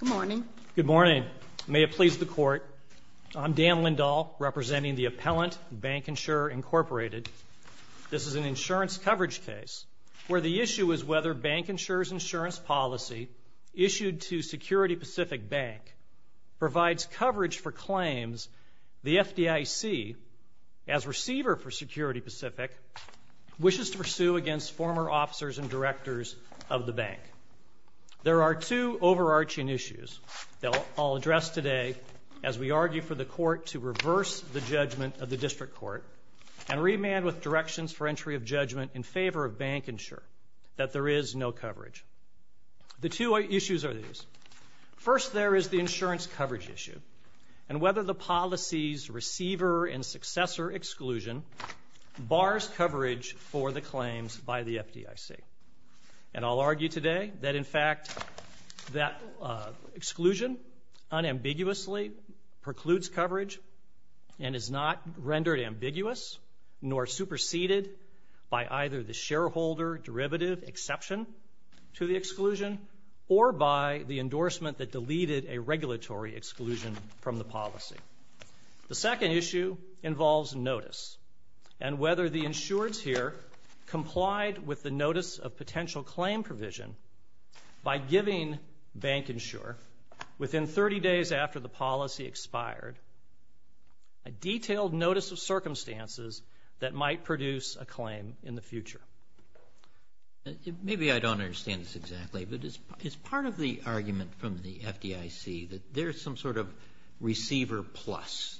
Good morning. Good morning. May it please the Court, I'm Dan Lindahl, representing the appellant, BancInsure, Inc. This is an insurance coverage case where the issue is whether BancInsure's insurance policy issued to Security Pacific Bank provides coverage for claims the FDIC, as receiver for Security Pacific, wishes to pursue against former officers and directors of the bank. There are two overarching issues that I'll address today as we argue for the Court to reverse the judgment of the District Court and remand with directions for entry of judgment in favor of BancInsure that there is no coverage. The two issues are these. First, there is the insurance coverage issue and whether the policy's receiver and successor exclusion bars coverage for the claims by the FDIC. And I'll argue today that, in fact, that exclusion unambiguously precludes coverage and is not rendered ambiguous nor superseded by either the shareholder derivative exception to the exclusion or by the endorsement that deleted a regulatory exclusion from the policy. The second issue involves notice and whether the insureds here complied with the notice of potential claim provision by giving BancInsure, within 30 days after the policy expired, a detailed notice of circumstances that might produce a claim in the future. Maybe I don't understand this exactly, but is part of the argument from the FDIC that there is some sort of receiver plus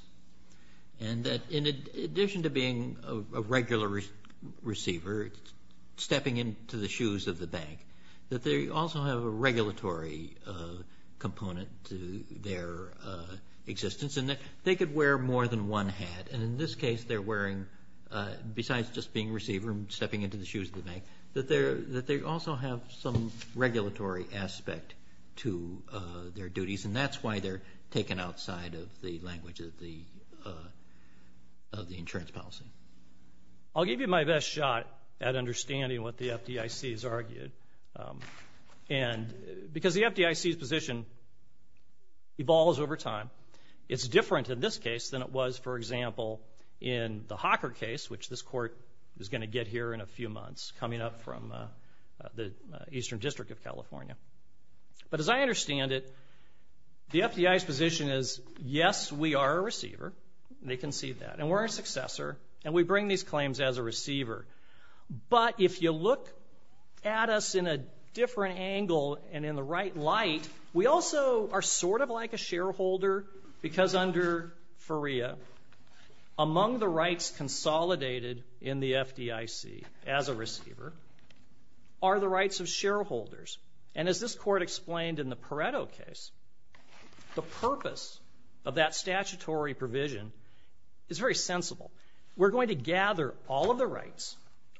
and that in addition to being a regular receiver, stepping into the shoes of the bank, that they also have a regulatory component to their existence and that they could wear more than one hat. And in this case, they're wearing, besides just being a receiver and stepping into the shoes of the bank, that they also have some regulatory aspect to their duties, and that's why they're taken outside of the language of the insurance policy. I'll give you my best shot at understanding what the FDIC has argued. And because the FDIC's position evolves over time, it's different in this case than it was, for example, in the Hawker case, which this court is going to get here in a few months, coming up from the Eastern District of California. But as I understand it, the FDIC's position is, yes, we are a receiver. They can see that. And we're a successor, and we bring these claims as a receiver. But if you look at us in a different angle and in the right light, we also are sort of like a shareholder because under FERIA, among the rights consolidated in the FDIC as a receiver are the rights of shareholders. And as this court explained in the Pareto case, the purpose of that statutory provision is very sensible. We're going to gather all of the rights,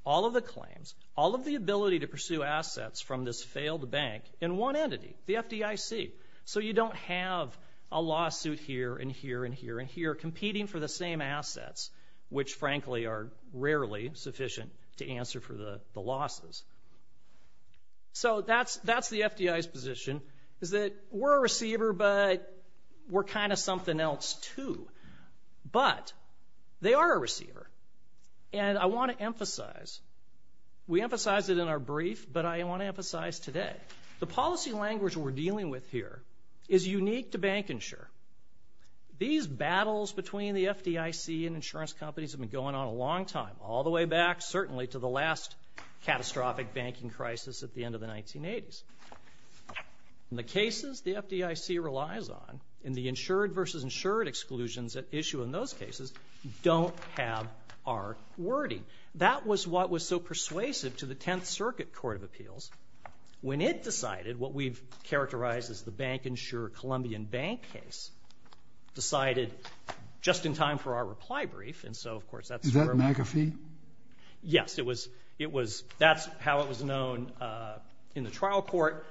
all of the claims, all of the ability to pursue assets from this failed bank in one entity, the FDIC. So you don't have a lawsuit here and here and here and here competing for the same assets, which frankly are rarely sufficient to answer for the losses. So that's the FDIC's position, is that we're a receiver, but we're kind of something else too. But they are a receiver. And I want to emphasize, we emphasized it in our brief, but I want to emphasize today, the policy language we're dealing with here is unique to Bank Insure. These battles between the FDIC and insurance companies have been going on a long time, all the way back certainly to the last catastrophic banking crisis at the end of the 1980s. And the cases the FDIC relies on and the insured versus insured exclusions that issue in those cases don't have our wording. That was what was so persuasive to the Tenth Circuit Court of Appeals when it decided what we've characterized as the Bank Insure-Columbian Bank case decided just in time for our reply brief. And so, of course, that's where we're at. Is that McAfee? Yes. It was – that's how it was known in the trial court.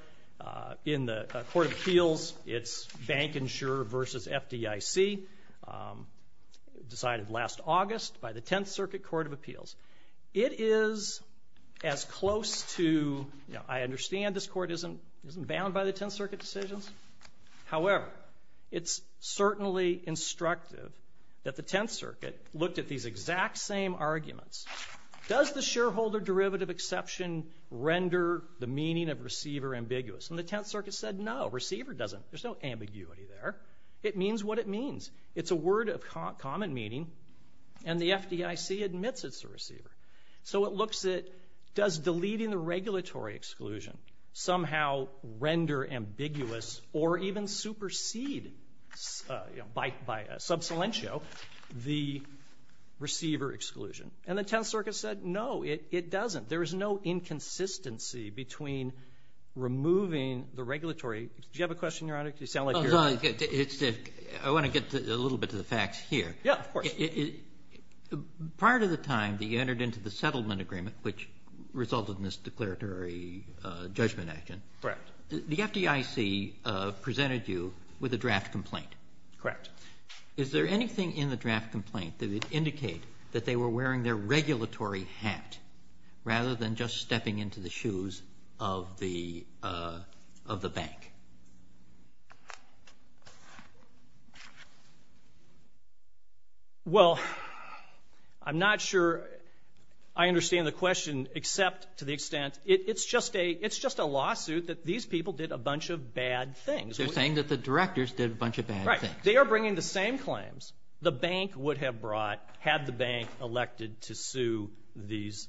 In the Court of Appeals, it's Bank Insure versus FDIC, decided last August by the Tenth Circuit Court of Appeals. It is as close to – I understand this court isn't bound by the Tenth Circuit decisions. However, it's certainly instructive that the Tenth Circuit looked at these exact same arguments. Does the shareholder derivative exception render the meaning of receiver ambiguous? And the Tenth Circuit said, no, receiver doesn't. There's no ambiguity there. It means what it means. It's a word of common meaning, and the FDIC admits it's a receiver. So it looks at does deleting the regulatory exclusion somehow render ambiguous or even supersede by sub salientio the receiver exclusion? And the Tenth Circuit said, no, it doesn't. There is no inconsistency between removing the regulatory – do you have a question, Your Honor? You sound like you're – I want to get a little bit to the facts here. Yeah, of course. Prior to the time that you entered into the settlement agreement, which resulted in this declaratory judgment action, Correct. the FDIC presented you with a draft complaint. Correct. Is there anything in the draft complaint that would indicate that they were wearing their regulatory hat rather than just stepping into the shoes of the bank? Well, I'm not sure I understand the question except to the extent it's just a lawsuit that these people did a bunch of bad things. They're saying that the directors did a bunch of bad things. Right. They are bringing the same claims the bank would have brought had the bank elected to sue these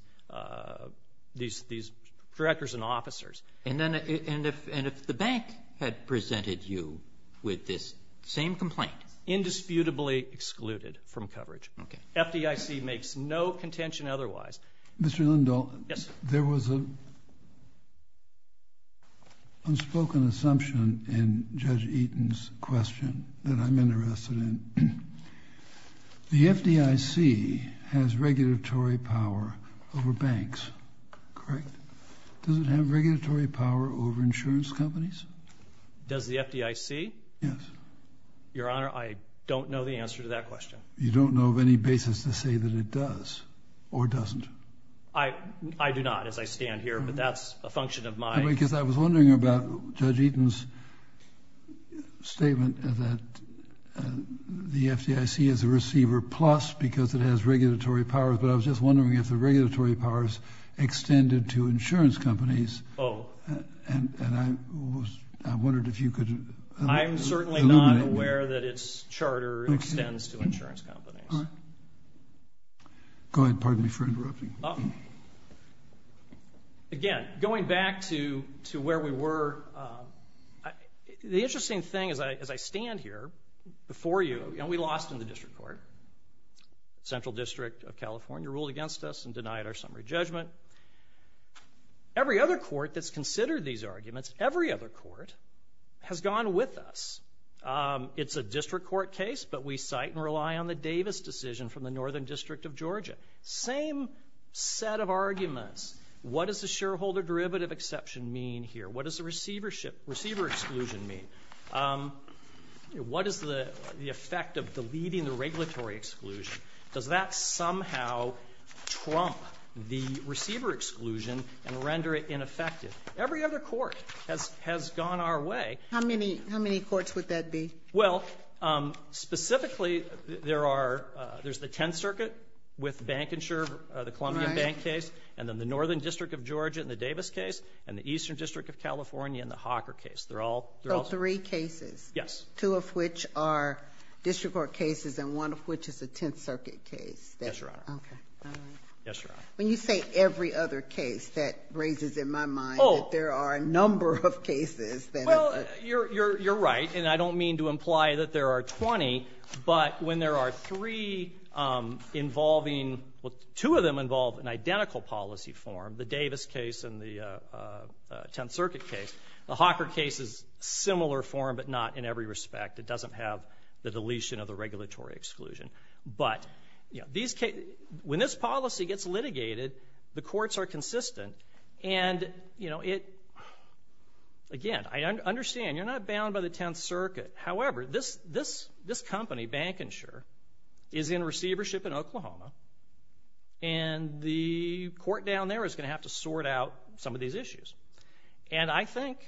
directors and officers. And if the bank had presented you with this same complaint? Indisputably excluded from coverage. Okay. FDIC makes no contention otherwise. Mr. Lindahl. Yes. There was an unspoken assumption in Judge Eaton's question that I'm interested in. The FDIC has regulatory power over banks, correct? Does it have regulatory power over insurance companies? Does the FDIC? Yes. Your Honor, I don't know the answer to that question. You don't know of any basis to say that it does or doesn't? I do not as I stand here, but that's a function of my – Because I was wondering about Judge Eaton's statement that the FDIC is a receiver plus because it has regulatory powers, but I was just wondering if the regulatory powers extended to insurance companies. Oh. And I wondered if you could – I'm certainly not aware that its charter extends to insurance companies. Go ahead. Pardon me for interrupting. Again, going back to where we were, the interesting thing as I stand here before you, and we lost in the district court. Central District of California ruled against us and denied our summary judgment. Every other court that's considered these arguments, every other court, has gone with us. It's a district court case, but we cite and rely on the Davis decision from the Northern District of Georgia. Same set of arguments. What does the shareholder derivative exception mean here? What does the receiver exclusion mean? What is the effect of deleting the regulatory exclusion? Does that somehow trump the receiver exclusion and render it ineffective? Every other court has gone our way. How many courts would that be? Well, specifically, there's the Tenth Circuit with bank insurer, the Columbia Bank case, and then the Northern District of Georgia in the Davis case, and the Eastern District of California in the Hawker case. So three cases. Yes. Two of which are district court cases and one of which is a Tenth Circuit case. Yes, Your Honor. Okay. All right. Yes, Your Honor. When you say every other case, that raises in my mind that there are a number of cases. Well, you're right, and I don't mean to imply that there are 20, but when there are three involving, well, two of them involve an identical policy form, the Davis case and the Tenth Circuit case. The Hawker case is a similar form, but not in every respect. It doesn't have the deletion of the regulatory exclusion. But, you know, when this policy gets litigated, the courts are consistent, and, you know, again, I understand you're not bound by the Tenth Circuit. However, this company, Bank Insure, is in receivership in Oklahoma, and the court down there is going to have to sort out some of these issues. And I think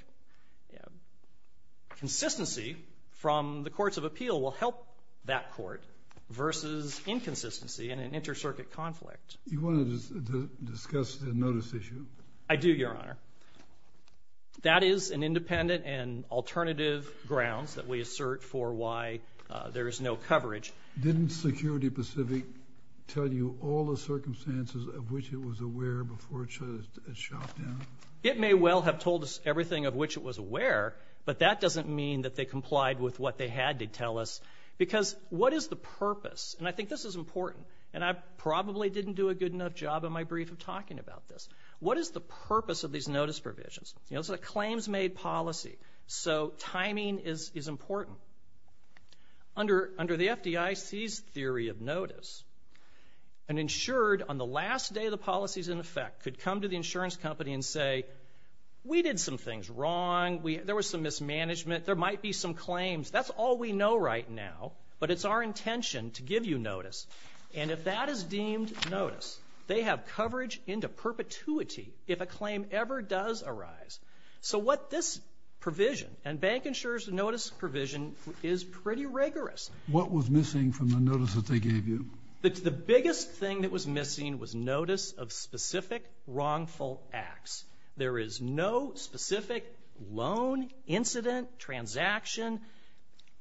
consistency from the courts of appeal will help that court versus inconsistency in an inter-circuit conflict. You want to discuss the notice issue? I do, Your Honor. That is an independent and alternative grounds that we assert for why there is no coverage. Didn't Security Pacific tell you all the circumstances of which it was aware before it shot down? It may well have told us everything of which it was aware, but that doesn't mean that they complied with what they had to tell us, because what is the purpose? And I think this is important, and I probably didn't do a good enough job in my brief of talking about this. What is the purpose of these notice provisions? You know, it's a claims-made policy, so timing is important. Under the FDIC's theory of notice, an insured, on the last day of the policies in effect, could come to the insurance company and say, we did some things wrong, there was some mismanagement, there might be some claims, that's all we know right now, but it's our intention to give you notice. And if that is deemed notice, they have coverage into perpetuity if a claim ever does arise. So what this provision, and bank insurers' notice provision, is pretty rigorous. What was missing from the notice that they gave you? The biggest thing that was missing was notice of specific wrongful acts. There is no specific loan, incident, transaction,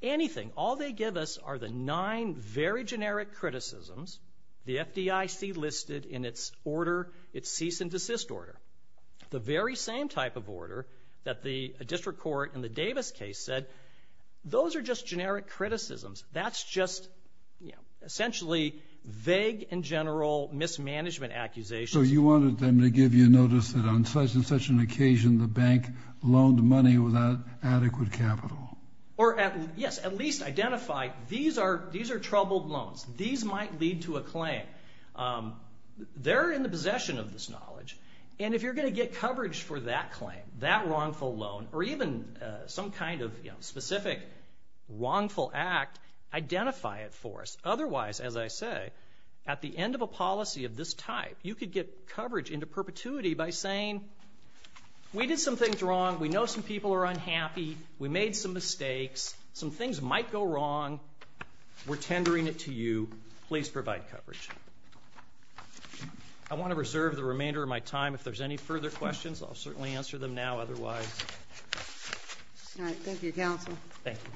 anything. All they give us are the nine very generic criticisms the FDIC listed in its order, its cease and desist order. The very same type of order that the district court in the Davis case said, those are just generic criticisms. That's just essentially vague and general mismanagement accusations. So you wanted them to give you notice that on such and such an occasion the bank loaned money without adequate capital. Or, yes, at least identify these are troubled loans. These might lead to a claim. They're in the possession of this knowledge, and if you're going to get coverage for that claim, that wrongful loan, or even some kind of specific wrongful act, identify it for us. Otherwise, as I say, at the end of a policy of this type, you could get coverage into perpetuity by saying, we did some things wrong. We know some people are unhappy. We made some mistakes. Some things might go wrong. We're tendering it to you. Please provide coverage. I want to reserve the remainder of my time. If there's any further questions, I'll certainly answer them now. Otherwise. All right. Thank you, Counsel. Thank you. Thank you.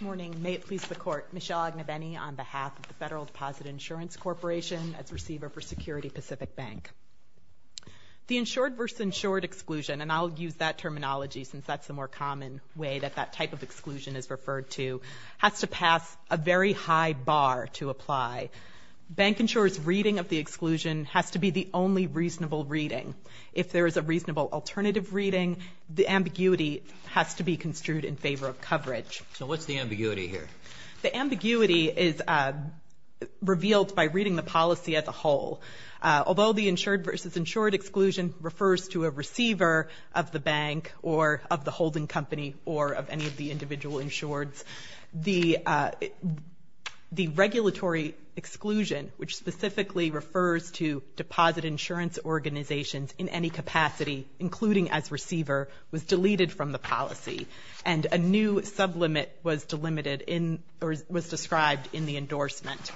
Good morning. May it please the Court. Michelle Agnabeny on behalf of the Federal Deposit Insurance Corporation as receiver for Security Pacific Bank. The insured versus insured exclusion, and I'll use that terminology since that's the more common way that that type of exclusion is referred to, has to pass a very high bar to apply. Bank insurers' reading of the exclusion has to be the only reasonable reading. If there is a reasonable alternative reading, the ambiguity has to be construed in favor of coverage. So what's the ambiguity here? The ambiguity is revealed by reading the policy as a whole. Although the insured versus insured exclusion refers to a receiver of the bank or of the holding company or of any of the individual insureds, the regulatory exclusion, which specifically refers to deposit insurance organizations in any capacity, including as receiver, was deleted from the policy, and a new sublimit was delimited in or was described in the endorsement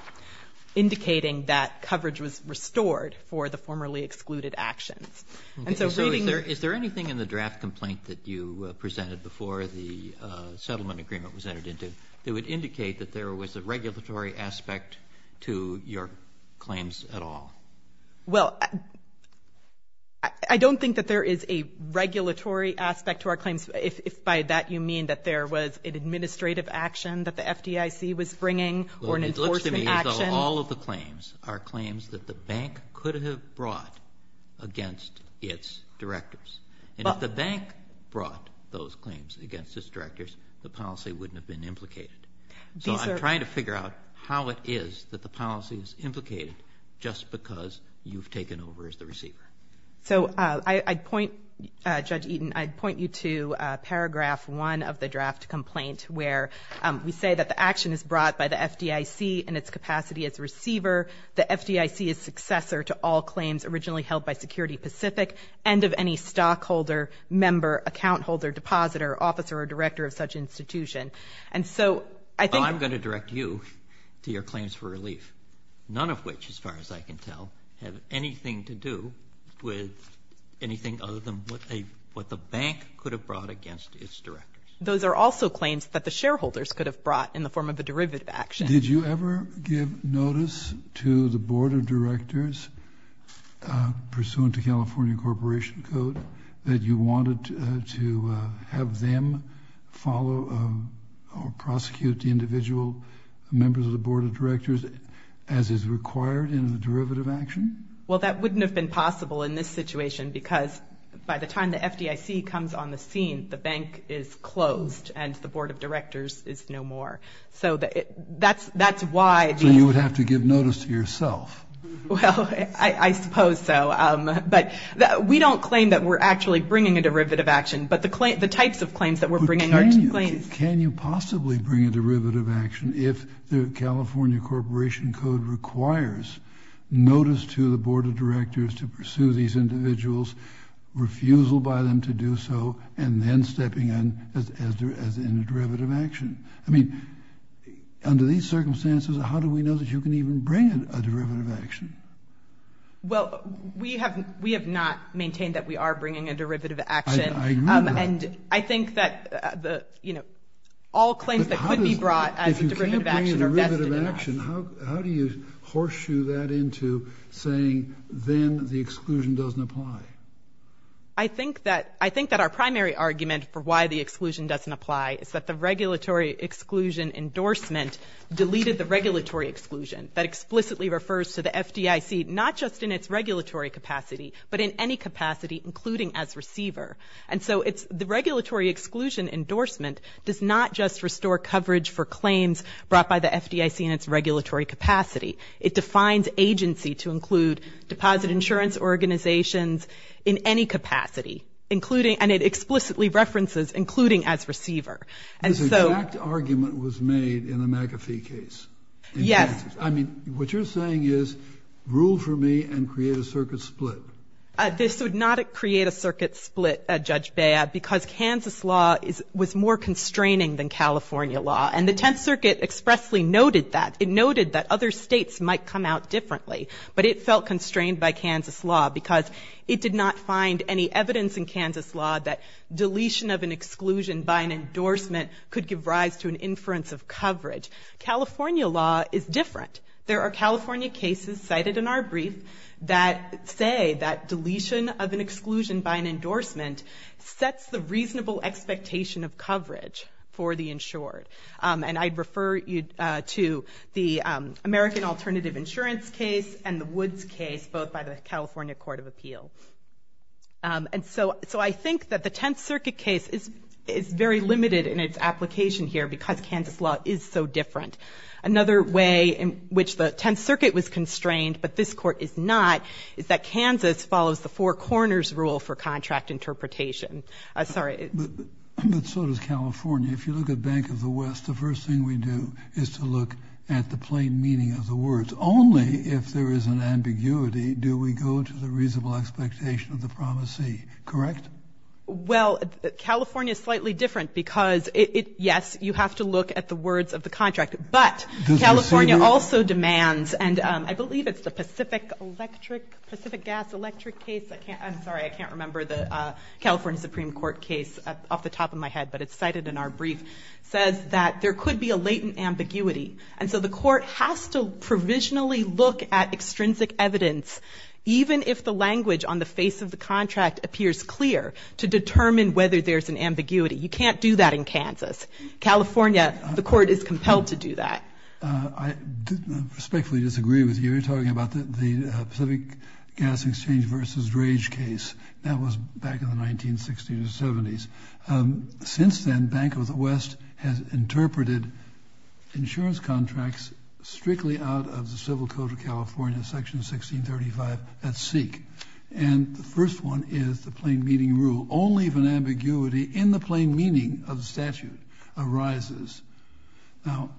indicating that coverage was restored for the formerly excluded actions. Is there anything in the draft complaint that you presented before the settlement agreement was entered into that would indicate that there was a regulatory aspect to your claims at all? Well, I don't think that there is a regulatory aspect to our claims, if by that you mean that there was an administrative action that the FDIC was bringing or an enforcement action. All of the claims are claims that the bank could have brought against its directors. And if the bank brought those claims against its directors, the policy wouldn't have been implicated. So I'm trying to figure out how it is that the policy is implicated just because you've taken over as the receiver. So I'd point, Judge Eaton, I'd point you to Paragraph 1 of the draft complaint, where we say that the action is brought by the FDIC in its capacity as receiver. The FDIC is successor to all claims originally held by Security Pacific, and of any stockholder, member, account holder, depositor, officer, or director of such institution. And so I think you're going to direct you to your claims for relief, none of which, as far as I can tell, have anything to do with anything other than what they, what the bank could have brought against its directors. Those are also claims that the shareholders could have brought in the form of a derivative action. Did you ever give notice to the board of directors, pursuant to California Corporation Code, that you wanted to have them follow or prosecute the individual members of the board of directors as is required in the derivative action? Well, that wouldn't have been possible in this situation because by the time the FDIC comes on the scene, the bank is closed and the board of directors is no more. So that's why. So you would have to give notice to yourself. Well, I suppose so. But we don't claim that we're actually bringing a derivative action, but the types of claims that we're bringing are claims. Can you possibly bring a derivative action if the California Corporation Code requires notice to the board of directors to pursue these individuals, refusal by them to do so, and then stepping in as in a derivative action? I mean, under these circumstances, how do we know that you can even bring a derivative action? Well, we have not maintained that we are bringing a derivative action. I agree with that. And I think that, you know, all claims that could be brought as a derivative action are vested in us. How do you horseshoe that into saying then the exclusion doesn't apply? I think that our primary argument for why the exclusion doesn't apply is that the regulatory exclusion endorsement deleted the regulatory exclusion. That explicitly refers to the FDIC not just in its regulatory capacity, but in any capacity, including as receiver. And so the regulatory exclusion endorsement does not just restore coverage for claims brought by the FDIC in its regulatory capacity. It defines agency to include deposit insurance organizations in any capacity, and it explicitly references including as receiver. This exact argument was made in the McAfee case. Yes. I mean, what you're saying is, rule for me and create a circuit split. This would not create a circuit split, Judge Bea, because Kansas law was more constraining than California law. And the Tenth Circuit expressly noted that. It noted that other states might come out differently, but it felt constrained by Kansas law because it did not find any evidence in Kansas law that deletion of an exclusion by an endorsement could give rise to an inference of coverage. California law is different. There are California cases cited in our brief that say that deletion of an exclusion by an endorsement sets the reasonable expectation of coverage for the insured. And I'd refer you to the American Alternative Insurance case and the Woods case, both by the California Court of Appeal. And so I think that the Tenth Circuit case is very limited in its application here because Kansas law is so different. Another way in which the Tenth Circuit was constrained but this Court is not is that Kansas follows the four corners rule for contract interpretation. I'm sorry. But so does California. If you look at Bank of the West, the first thing we do is to look at the plain meaning of the words. Only if there is an ambiguity do we go to the reasonable expectation of the promisee. Correct? Well, California is slightly different because, yes, you have to look at the words of the contract. But California also demands, and I believe it's the Pacific Electric, Pacific Gas Electric case. I'm sorry, I can't remember the California Supreme Court case off the top of my head, but it's cited in our brief, says that there could be a latent ambiguity. And so the court has to provisionally look at extrinsic evidence, even if the language on the face of the contract appears clear, to determine whether there's an ambiguity. You can't do that in Kansas. California, the court is compelled to do that. I respectfully disagree with you. You're talking about the Pacific Gas Exchange v. Rage case. That was back in the 1960s and 70s. Since then, Bank of the West has interpreted insurance contracts strictly out of the Civil Code of California, Section 1635, at seek. And the first one is the plain meaning rule. Only if an ambiguity in the plain meaning of the statute arises. Now,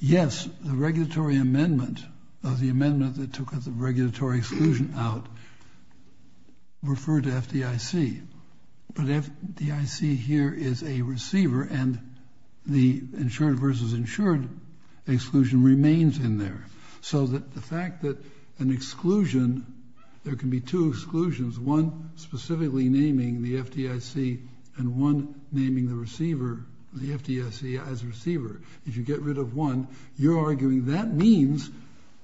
yes, the regulatory amendment of the amendment that took the regulatory exclusion out referred to FDIC. But FDIC here is a receiver, and the insured v. insured exclusion remains in there. So the fact that an exclusion, there can be two exclusions, one specifically naming the FDIC and one naming the receiver, the FDIC, as receiver. If you get rid of one, you're arguing that means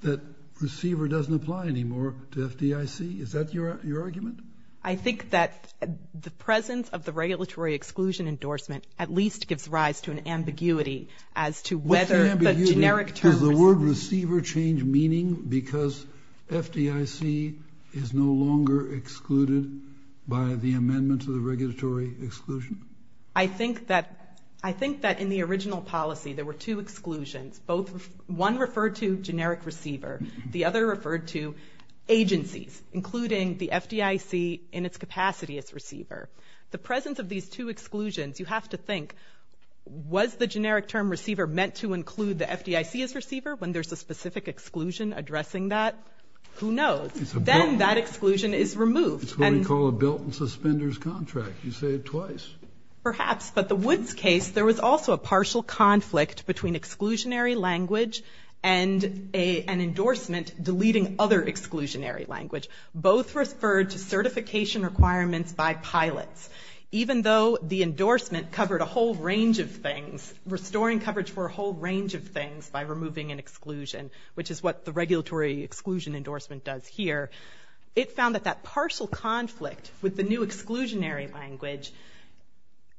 that receiver doesn't apply anymore to FDIC. Is that your argument? I think that the presence of the regulatory exclusion endorsement at least gives rise to an ambiguity as to whether the generic term. Does the word receiver change meaning because FDIC is no longer excluded by the amendment to the regulatory exclusion? I think that in the original policy there were two exclusions. One referred to generic receiver. The other referred to agencies, including the FDIC in its capacity as receiver. The presence of these two exclusions, you have to think, was the generic term receiver meant to include the FDIC as receiver when there's a specific exclusion addressing that? Who knows? Then that exclusion is removed. It's what we call a built-in suspenders contract. You say it twice. Perhaps. But the Woods case, there was also a partial conflict between exclusionary language and an endorsement deleting other exclusionary language. Both referred to certification requirements by pilots. Even though the endorsement covered a whole range of things, restoring coverage for a whole range of things by removing an exclusion, which is what the regulatory exclusion endorsement does here, it found that that partial conflict with the new exclusionary language,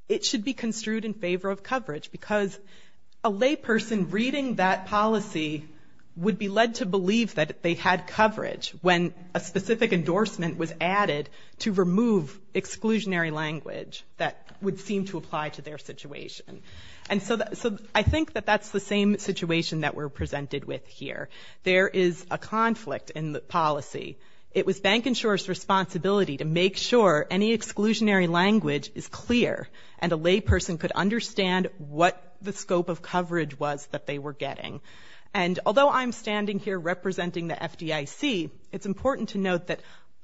it should be construed in favor of coverage, because a layperson reading that policy would be led to believe that they had coverage when a specific endorsement was added to remove exclusionary language that would seem to apply to their situation. And so I think that that's the same situation that we're presented with here. There is a conflict in the policy. It was bank insurers' responsibility to make sure any exclusionary language is clear and a layperson could understand what the scope of coverage was that they were getting. And although I'm standing here representing the FDIC, it's important to note that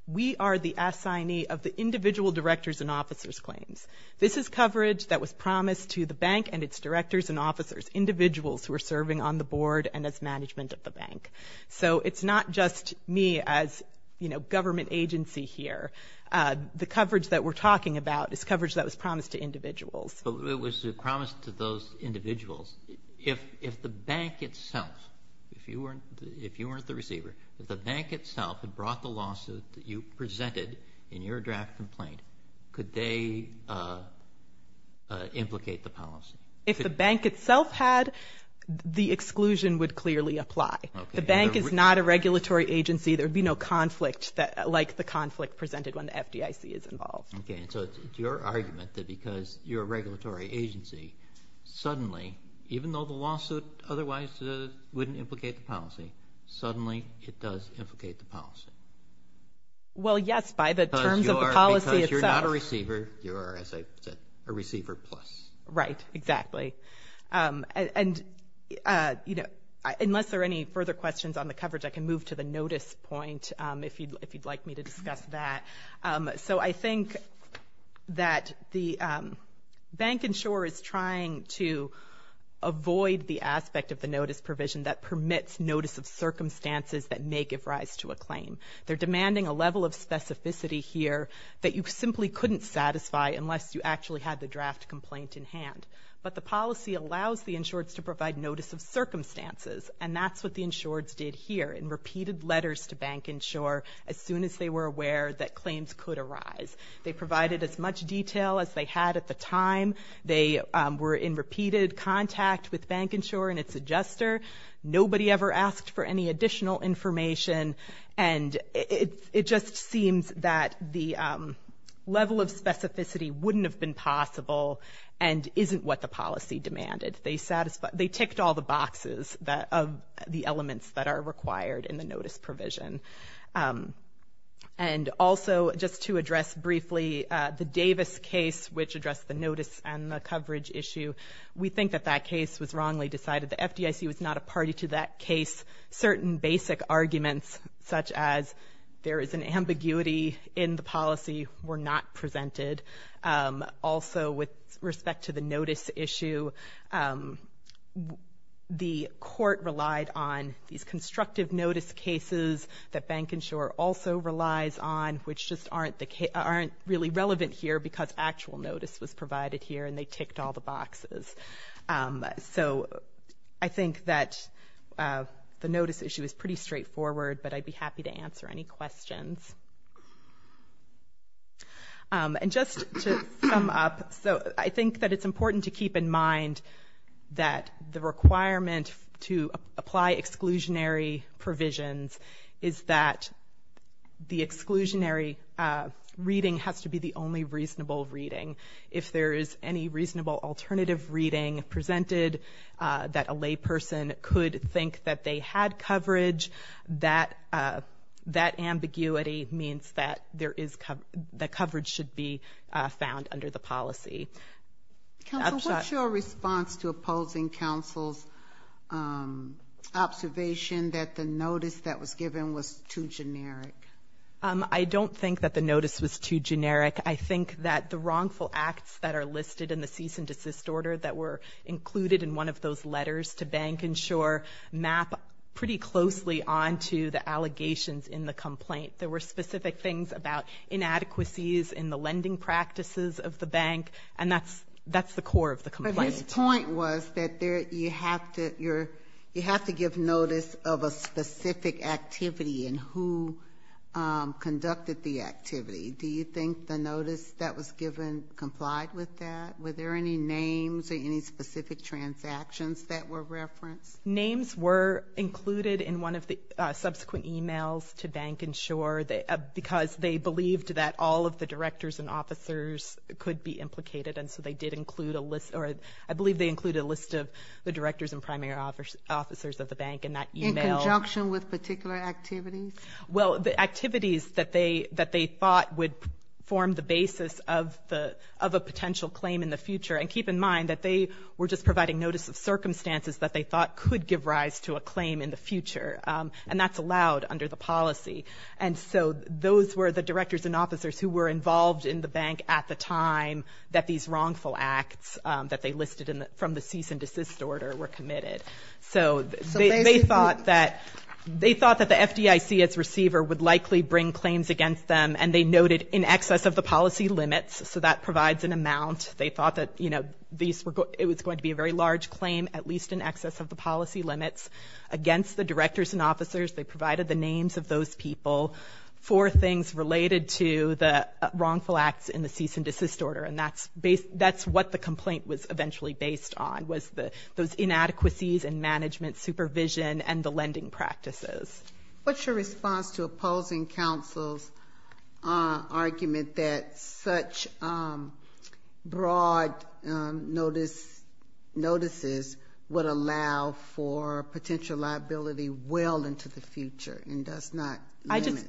we are the assignee of the individual directors and officers' claims. This is coverage that was promised to the bank and its directors and officers, individuals who are serving on the board and as management of the bank. So it's not just me as, you know, government agency here. The coverage that we're talking about is coverage that was promised to individuals. But it was promised to those individuals. If the bank itself, if you weren't the receiver, if the bank itself had brought the lawsuit that you presented in your draft complaint, could they implicate the policy? If the bank itself had, the exclusion would clearly apply. The bank is not a regulatory agency. There would be no conflict like the conflict presented when the FDIC is involved. Okay, so it's your argument that because you're a regulatory agency, suddenly, even though the lawsuit otherwise wouldn't implicate the policy, suddenly it does implicate the policy. Well, yes, by the terms of the policy itself. Because you're not a receiver. You are, as I said, a receiver plus. Right, exactly. And, you know, unless there are any further questions on the coverage, I can move to the notice point if you'd like me to discuss that. So I think that the bank insurer is trying to avoid the aspect of the notice provision that permits notice of circumstances that may give rise to a claim. They're demanding a level of specificity here that you simply couldn't satisfy unless you actually had the draft complaint in hand. But the policy allows the insureds to provide notice of circumstances, and that's what the insureds did here, in repeated letters to bank insurer as soon as they were aware that claims could arise. They provided as much detail as they had at the time. They were in repeated contact with bank insurer and its adjuster. Nobody ever asked for any additional information. And it just seems that the level of specificity wouldn't have been possible and isn't what the policy demanded. They ticked all the boxes of the elements that are required in the notice provision. And also, just to address briefly, the Davis case, which addressed the notice and the coverage issue, we think that that case was wrongly decided. The FDIC was not a party to that case. Certain basic arguments, such as there is an ambiguity in the policy, were not presented. Also, with respect to the notice issue, the court relied on these constructive notice cases that bank insurer also relies on, which just aren't really relevant here because actual notice was provided here, and they ticked all the boxes. So I think that the notice issue is pretty straightforward, but I'd be happy to answer any questions. And just to sum up, so I think that it's important to keep in mind that the requirement to apply exclusionary provisions is that the exclusionary reading has to be the only reasonable reading. If there is any reasonable alternative reading presented, that a layperson could think that they had coverage, that ambiguity means that coverage should be found under the policy. Counsel, what's your response to opposing counsel's observation that the notice that was given was too generic? I don't think that the notice was too generic. I think that the wrongful acts that are listed in the cease and desist order that were included in one of those letters to bank insurer map pretty closely onto the allegations in the complaint. There were specific things about inadequacies in the lending practices of the bank, and that's the core of the complaint. But his point was that you have to give notice of a specific activity and who conducted the activity. Do you think the notice that was given complied with that? Were there any names or any specific transactions that were referenced? Names were included in one of the subsequent emails to bank insurer because they believed that all of the directors and officers could be implicated, and so they did include a list, or I believe they included a list of the directors and primary officers of the bank in that email. In conjunction with particular activities? Well, the activities that they thought would form the basis of a potential claim in the future, and keep in mind that they were just providing notice of circumstances that they thought could give rise to a claim in the future, and that's allowed under the policy. And so those were the directors and officers who were involved in the bank at the time that these wrongful acts that they listed from the cease and desist order were committed. So they thought that the FDIC as receiver would likely bring claims against them, and they noted in excess of the policy limits, so that provides an amount. They thought that, you know, it was going to be a very large claim, at least in excess of the policy limits, against the directors and officers. They provided the names of those people for things related to the wrongful acts in the cease and desist order, and that's what the complaint was eventually based on, was those inadequacies in management, supervision, and the lending practices. What's your response to opposing counsel's argument that such broad notices would allow for potential liability well into the future and does not limit?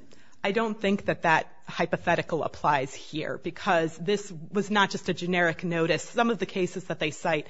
I don't think that that hypothetical applies here, because this was not just a generic notice. Some of the cases that they cite,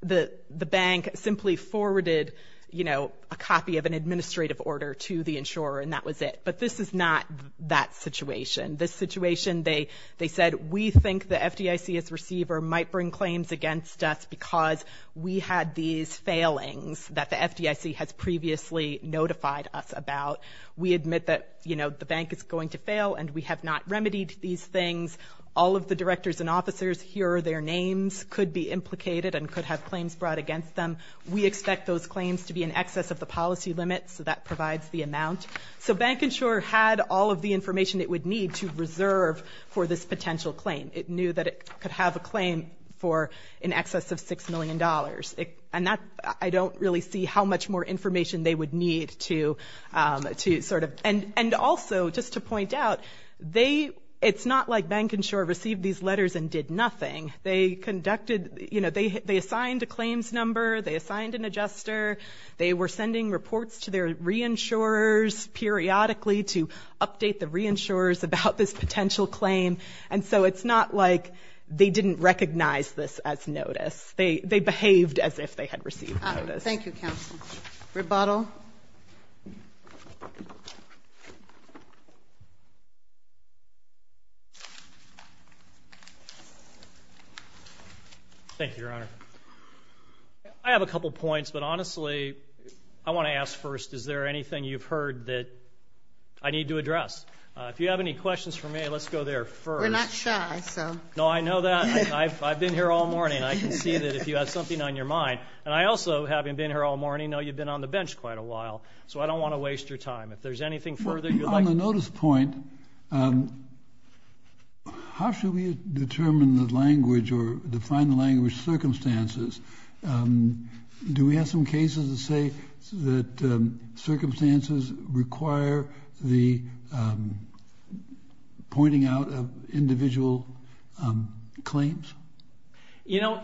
the bank simply forwarded, you know, a copy of an administrative order to the insurer, and that was it. But this is not that situation. This situation, they said, we think the FDIC as receiver might bring claims against us because we had these failings that the FDIC has previously notified us about. We admit that, you know, the bank is going to fail, and we have not remedied these things. All of the directors and officers, here are their names, could be implicated and could have claims brought against them. We expect those claims to be in excess of the policy limit, so that provides the amount. So bank insurer had all of the information it would need to reserve for this potential claim. It knew that it could have a claim for in excess of $6 million, and I don't really see how much more information they would need to sort of. And also, just to point out, it's not like bank insurer received these letters and did nothing. They conducted, you know, they assigned a claims number, they assigned an adjuster, they were sending reports to their re-insurers periodically to update the re-insurers about this potential claim. And so it's not like they didn't recognize this as notice. They behaved as if they had received notice. Thank you, counsel. Rebuttal. Thank you, Your Honor. I have a couple of points, but honestly, I want to ask first, is there anything you've heard that I need to address? If you have any questions for me, let's go there first. We're not shy, so. No, I know that. I've been here all morning. I can see that if you have something on your mind. And I also, having been here all morning, know you've been on the bench quite a while, so I don't want to waste your time. If there's anything further you'd like to say. On the notice point, how should we determine the language or define the language circumstances? Do we have some cases that say that circumstances require the pointing out of individual claims? You know,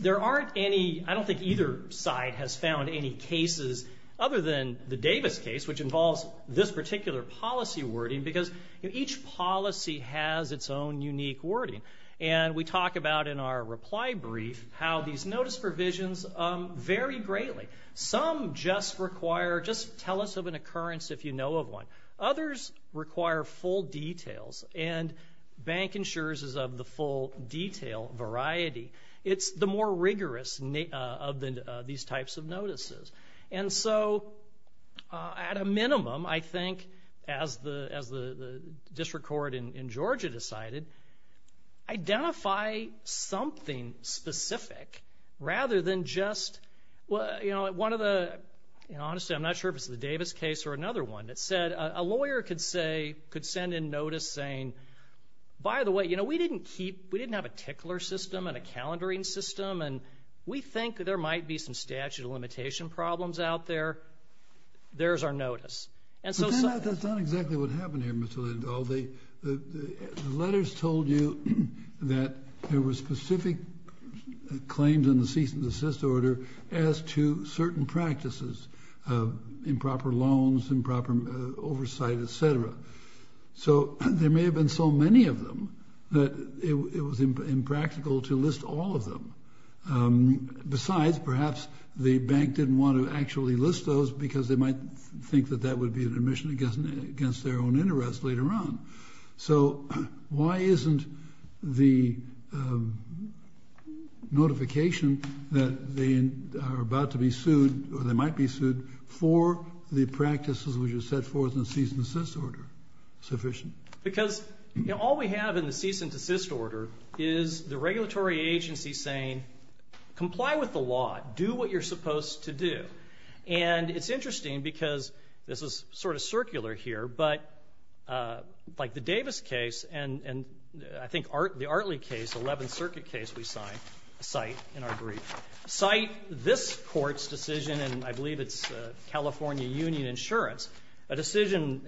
there aren't any, I don't think either side has found any cases, other than the Davis case, which involves this particular policy wording, because each policy has its own unique wording. And we talk about in our reply brief how these notice provisions vary greatly. Some just require, just tell us of an occurrence if you know of one. Others require full details, and bank insurers is of the full detail variety. It's the more rigorous of these types of notices. And so, at a minimum, I think, as the district court in Georgia decided, identify something specific rather than just, you know, one of the, and honestly, I'm not sure if it's the Davis case or another one that said, a lawyer could send in notice saying, by the way, you know, we didn't keep, we didn't have a tickler system and a calendaring system, and we think there might be some statute of limitation problems out there. There's our notice. That's not exactly what happened here, Mr. Lindahl. The letters told you that there were specific claims in the cease and desist order as to certain practices, improper loans, improper oversight, et cetera. So there may have been so many of them that it was impractical to list all of them. Besides, perhaps the bank didn't want to actually list those because they might think that that would be an admission against their own interest later on. So why isn't the notification that they are about to be sued or they might be sued for the practices which are set forth in the cease and desist order sufficient? Because, you know, all we have in the cease and desist order is the regulatory agency saying, comply with the law, do what you're supposed to do. And it's interesting because this is sort of circular here, but like the Davis case and I think the Artley case, the 11th Circuit case we cite in our brief, cite this court's decision, and I believe it's California Union Insurance, a decision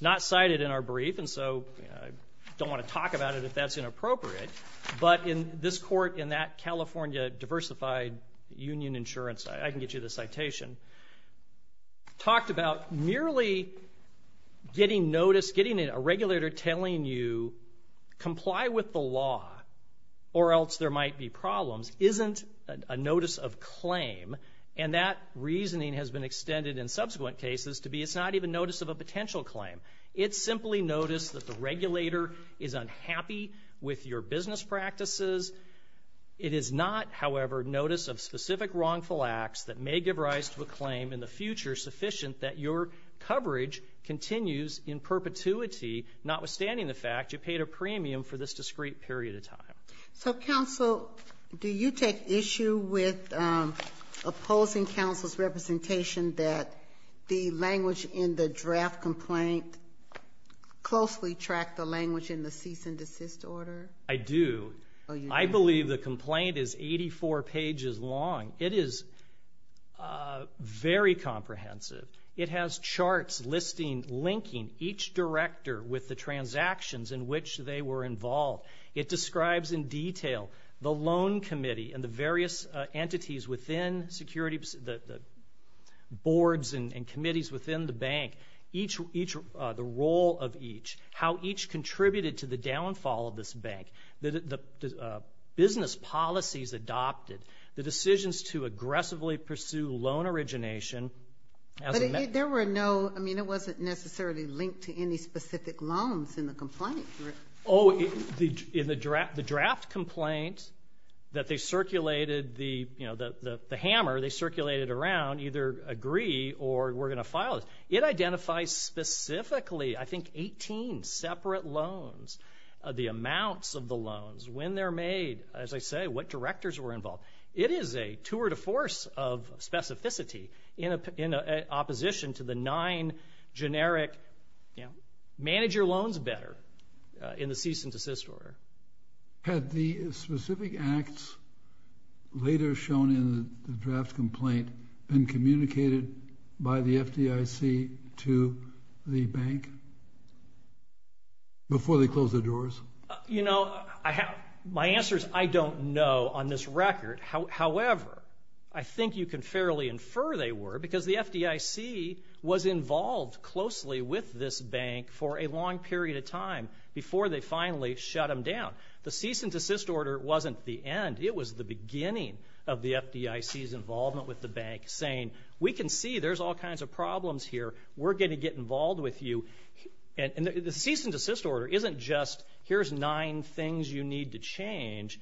not cited in our brief, and so I don't want to talk about it if that's inappropriate, but in this court in that California diversified union insurance, I can get you the citation, talked about merely getting notice, getting a regulator telling you comply with the law or else there might be problems isn't a notice of claim, and that reasoning has been extended in subsequent cases to be it's not even notice of a potential claim. It's simply notice that the regulator is unhappy with your business practices. It is not, however, notice of specific wrongful acts that may give rise to a claim in the future sufficient that your coverage continues in perpetuity, notwithstanding the fact you paid a premium for this discrete period of time. So, counsel, do you take issue with opposing counsel's representation that the language in the draft complaint closely tracked the language in the cease and desist order? I do. I believe the complaint is 84 pages long. It is very comprehensive. It has charts linking each director with the transactions in which they were involved. It describes in detail the loan committee and the various entities within security, the boards and committees within the bank, the role of each, how each contributed to the downfall of this bank, the business policies adopted, the decisions to aggressively pursue loan origination. But there were no, I mean, it wasn't necessarily linked to any specific loans in the complaint. Oh, in the draft complaint that they circulated, the hammer they circulated around, either agree or we're going to file it. It identifies specifically, I think, 18 separate loans, the amounts of the loans, when they're made, as I say, what directors were involved. It is a tour de force of specificity in opposition to the nine generic, you know, manage your loans better in the cease and desist order. Had the specific acts later shown in the draft complaint been communicated by the FDIC to the bank before they closed their doors? You know, my answer is I don't know on this record. However, I think you can fairly infer they were because the FDIC was involved closely with this bank for a long period of time before they finally shut them down. The cease and desist order wasn't the end. It was the beginning of the FDIC's involvement with the bank saying, we can see there's all kinds of problems here. We're going to get involved with you. And the cease and desist order isn't just here's nine things you need to change.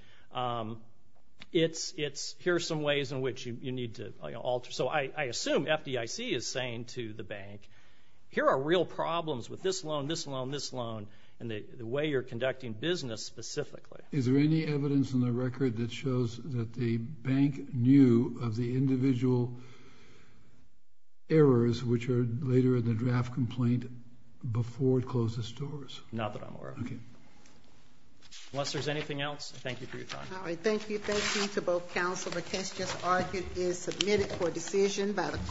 It's here's some ways in which you need to alter. So I assume FDIC is saying to the bank, here are real problems with this loan, this loan, this loan, and the way you're conducting business specifically. Is there any evidence in the record that shows that the bank knew of the individual errors which are later in the draft complaint before it closed its doors? Not that I'm aware of. Okay. Unless there's anything else, thank you for your time. All right, thank you. Thank you to both counsel. The case just argued is submitted for decision by the court.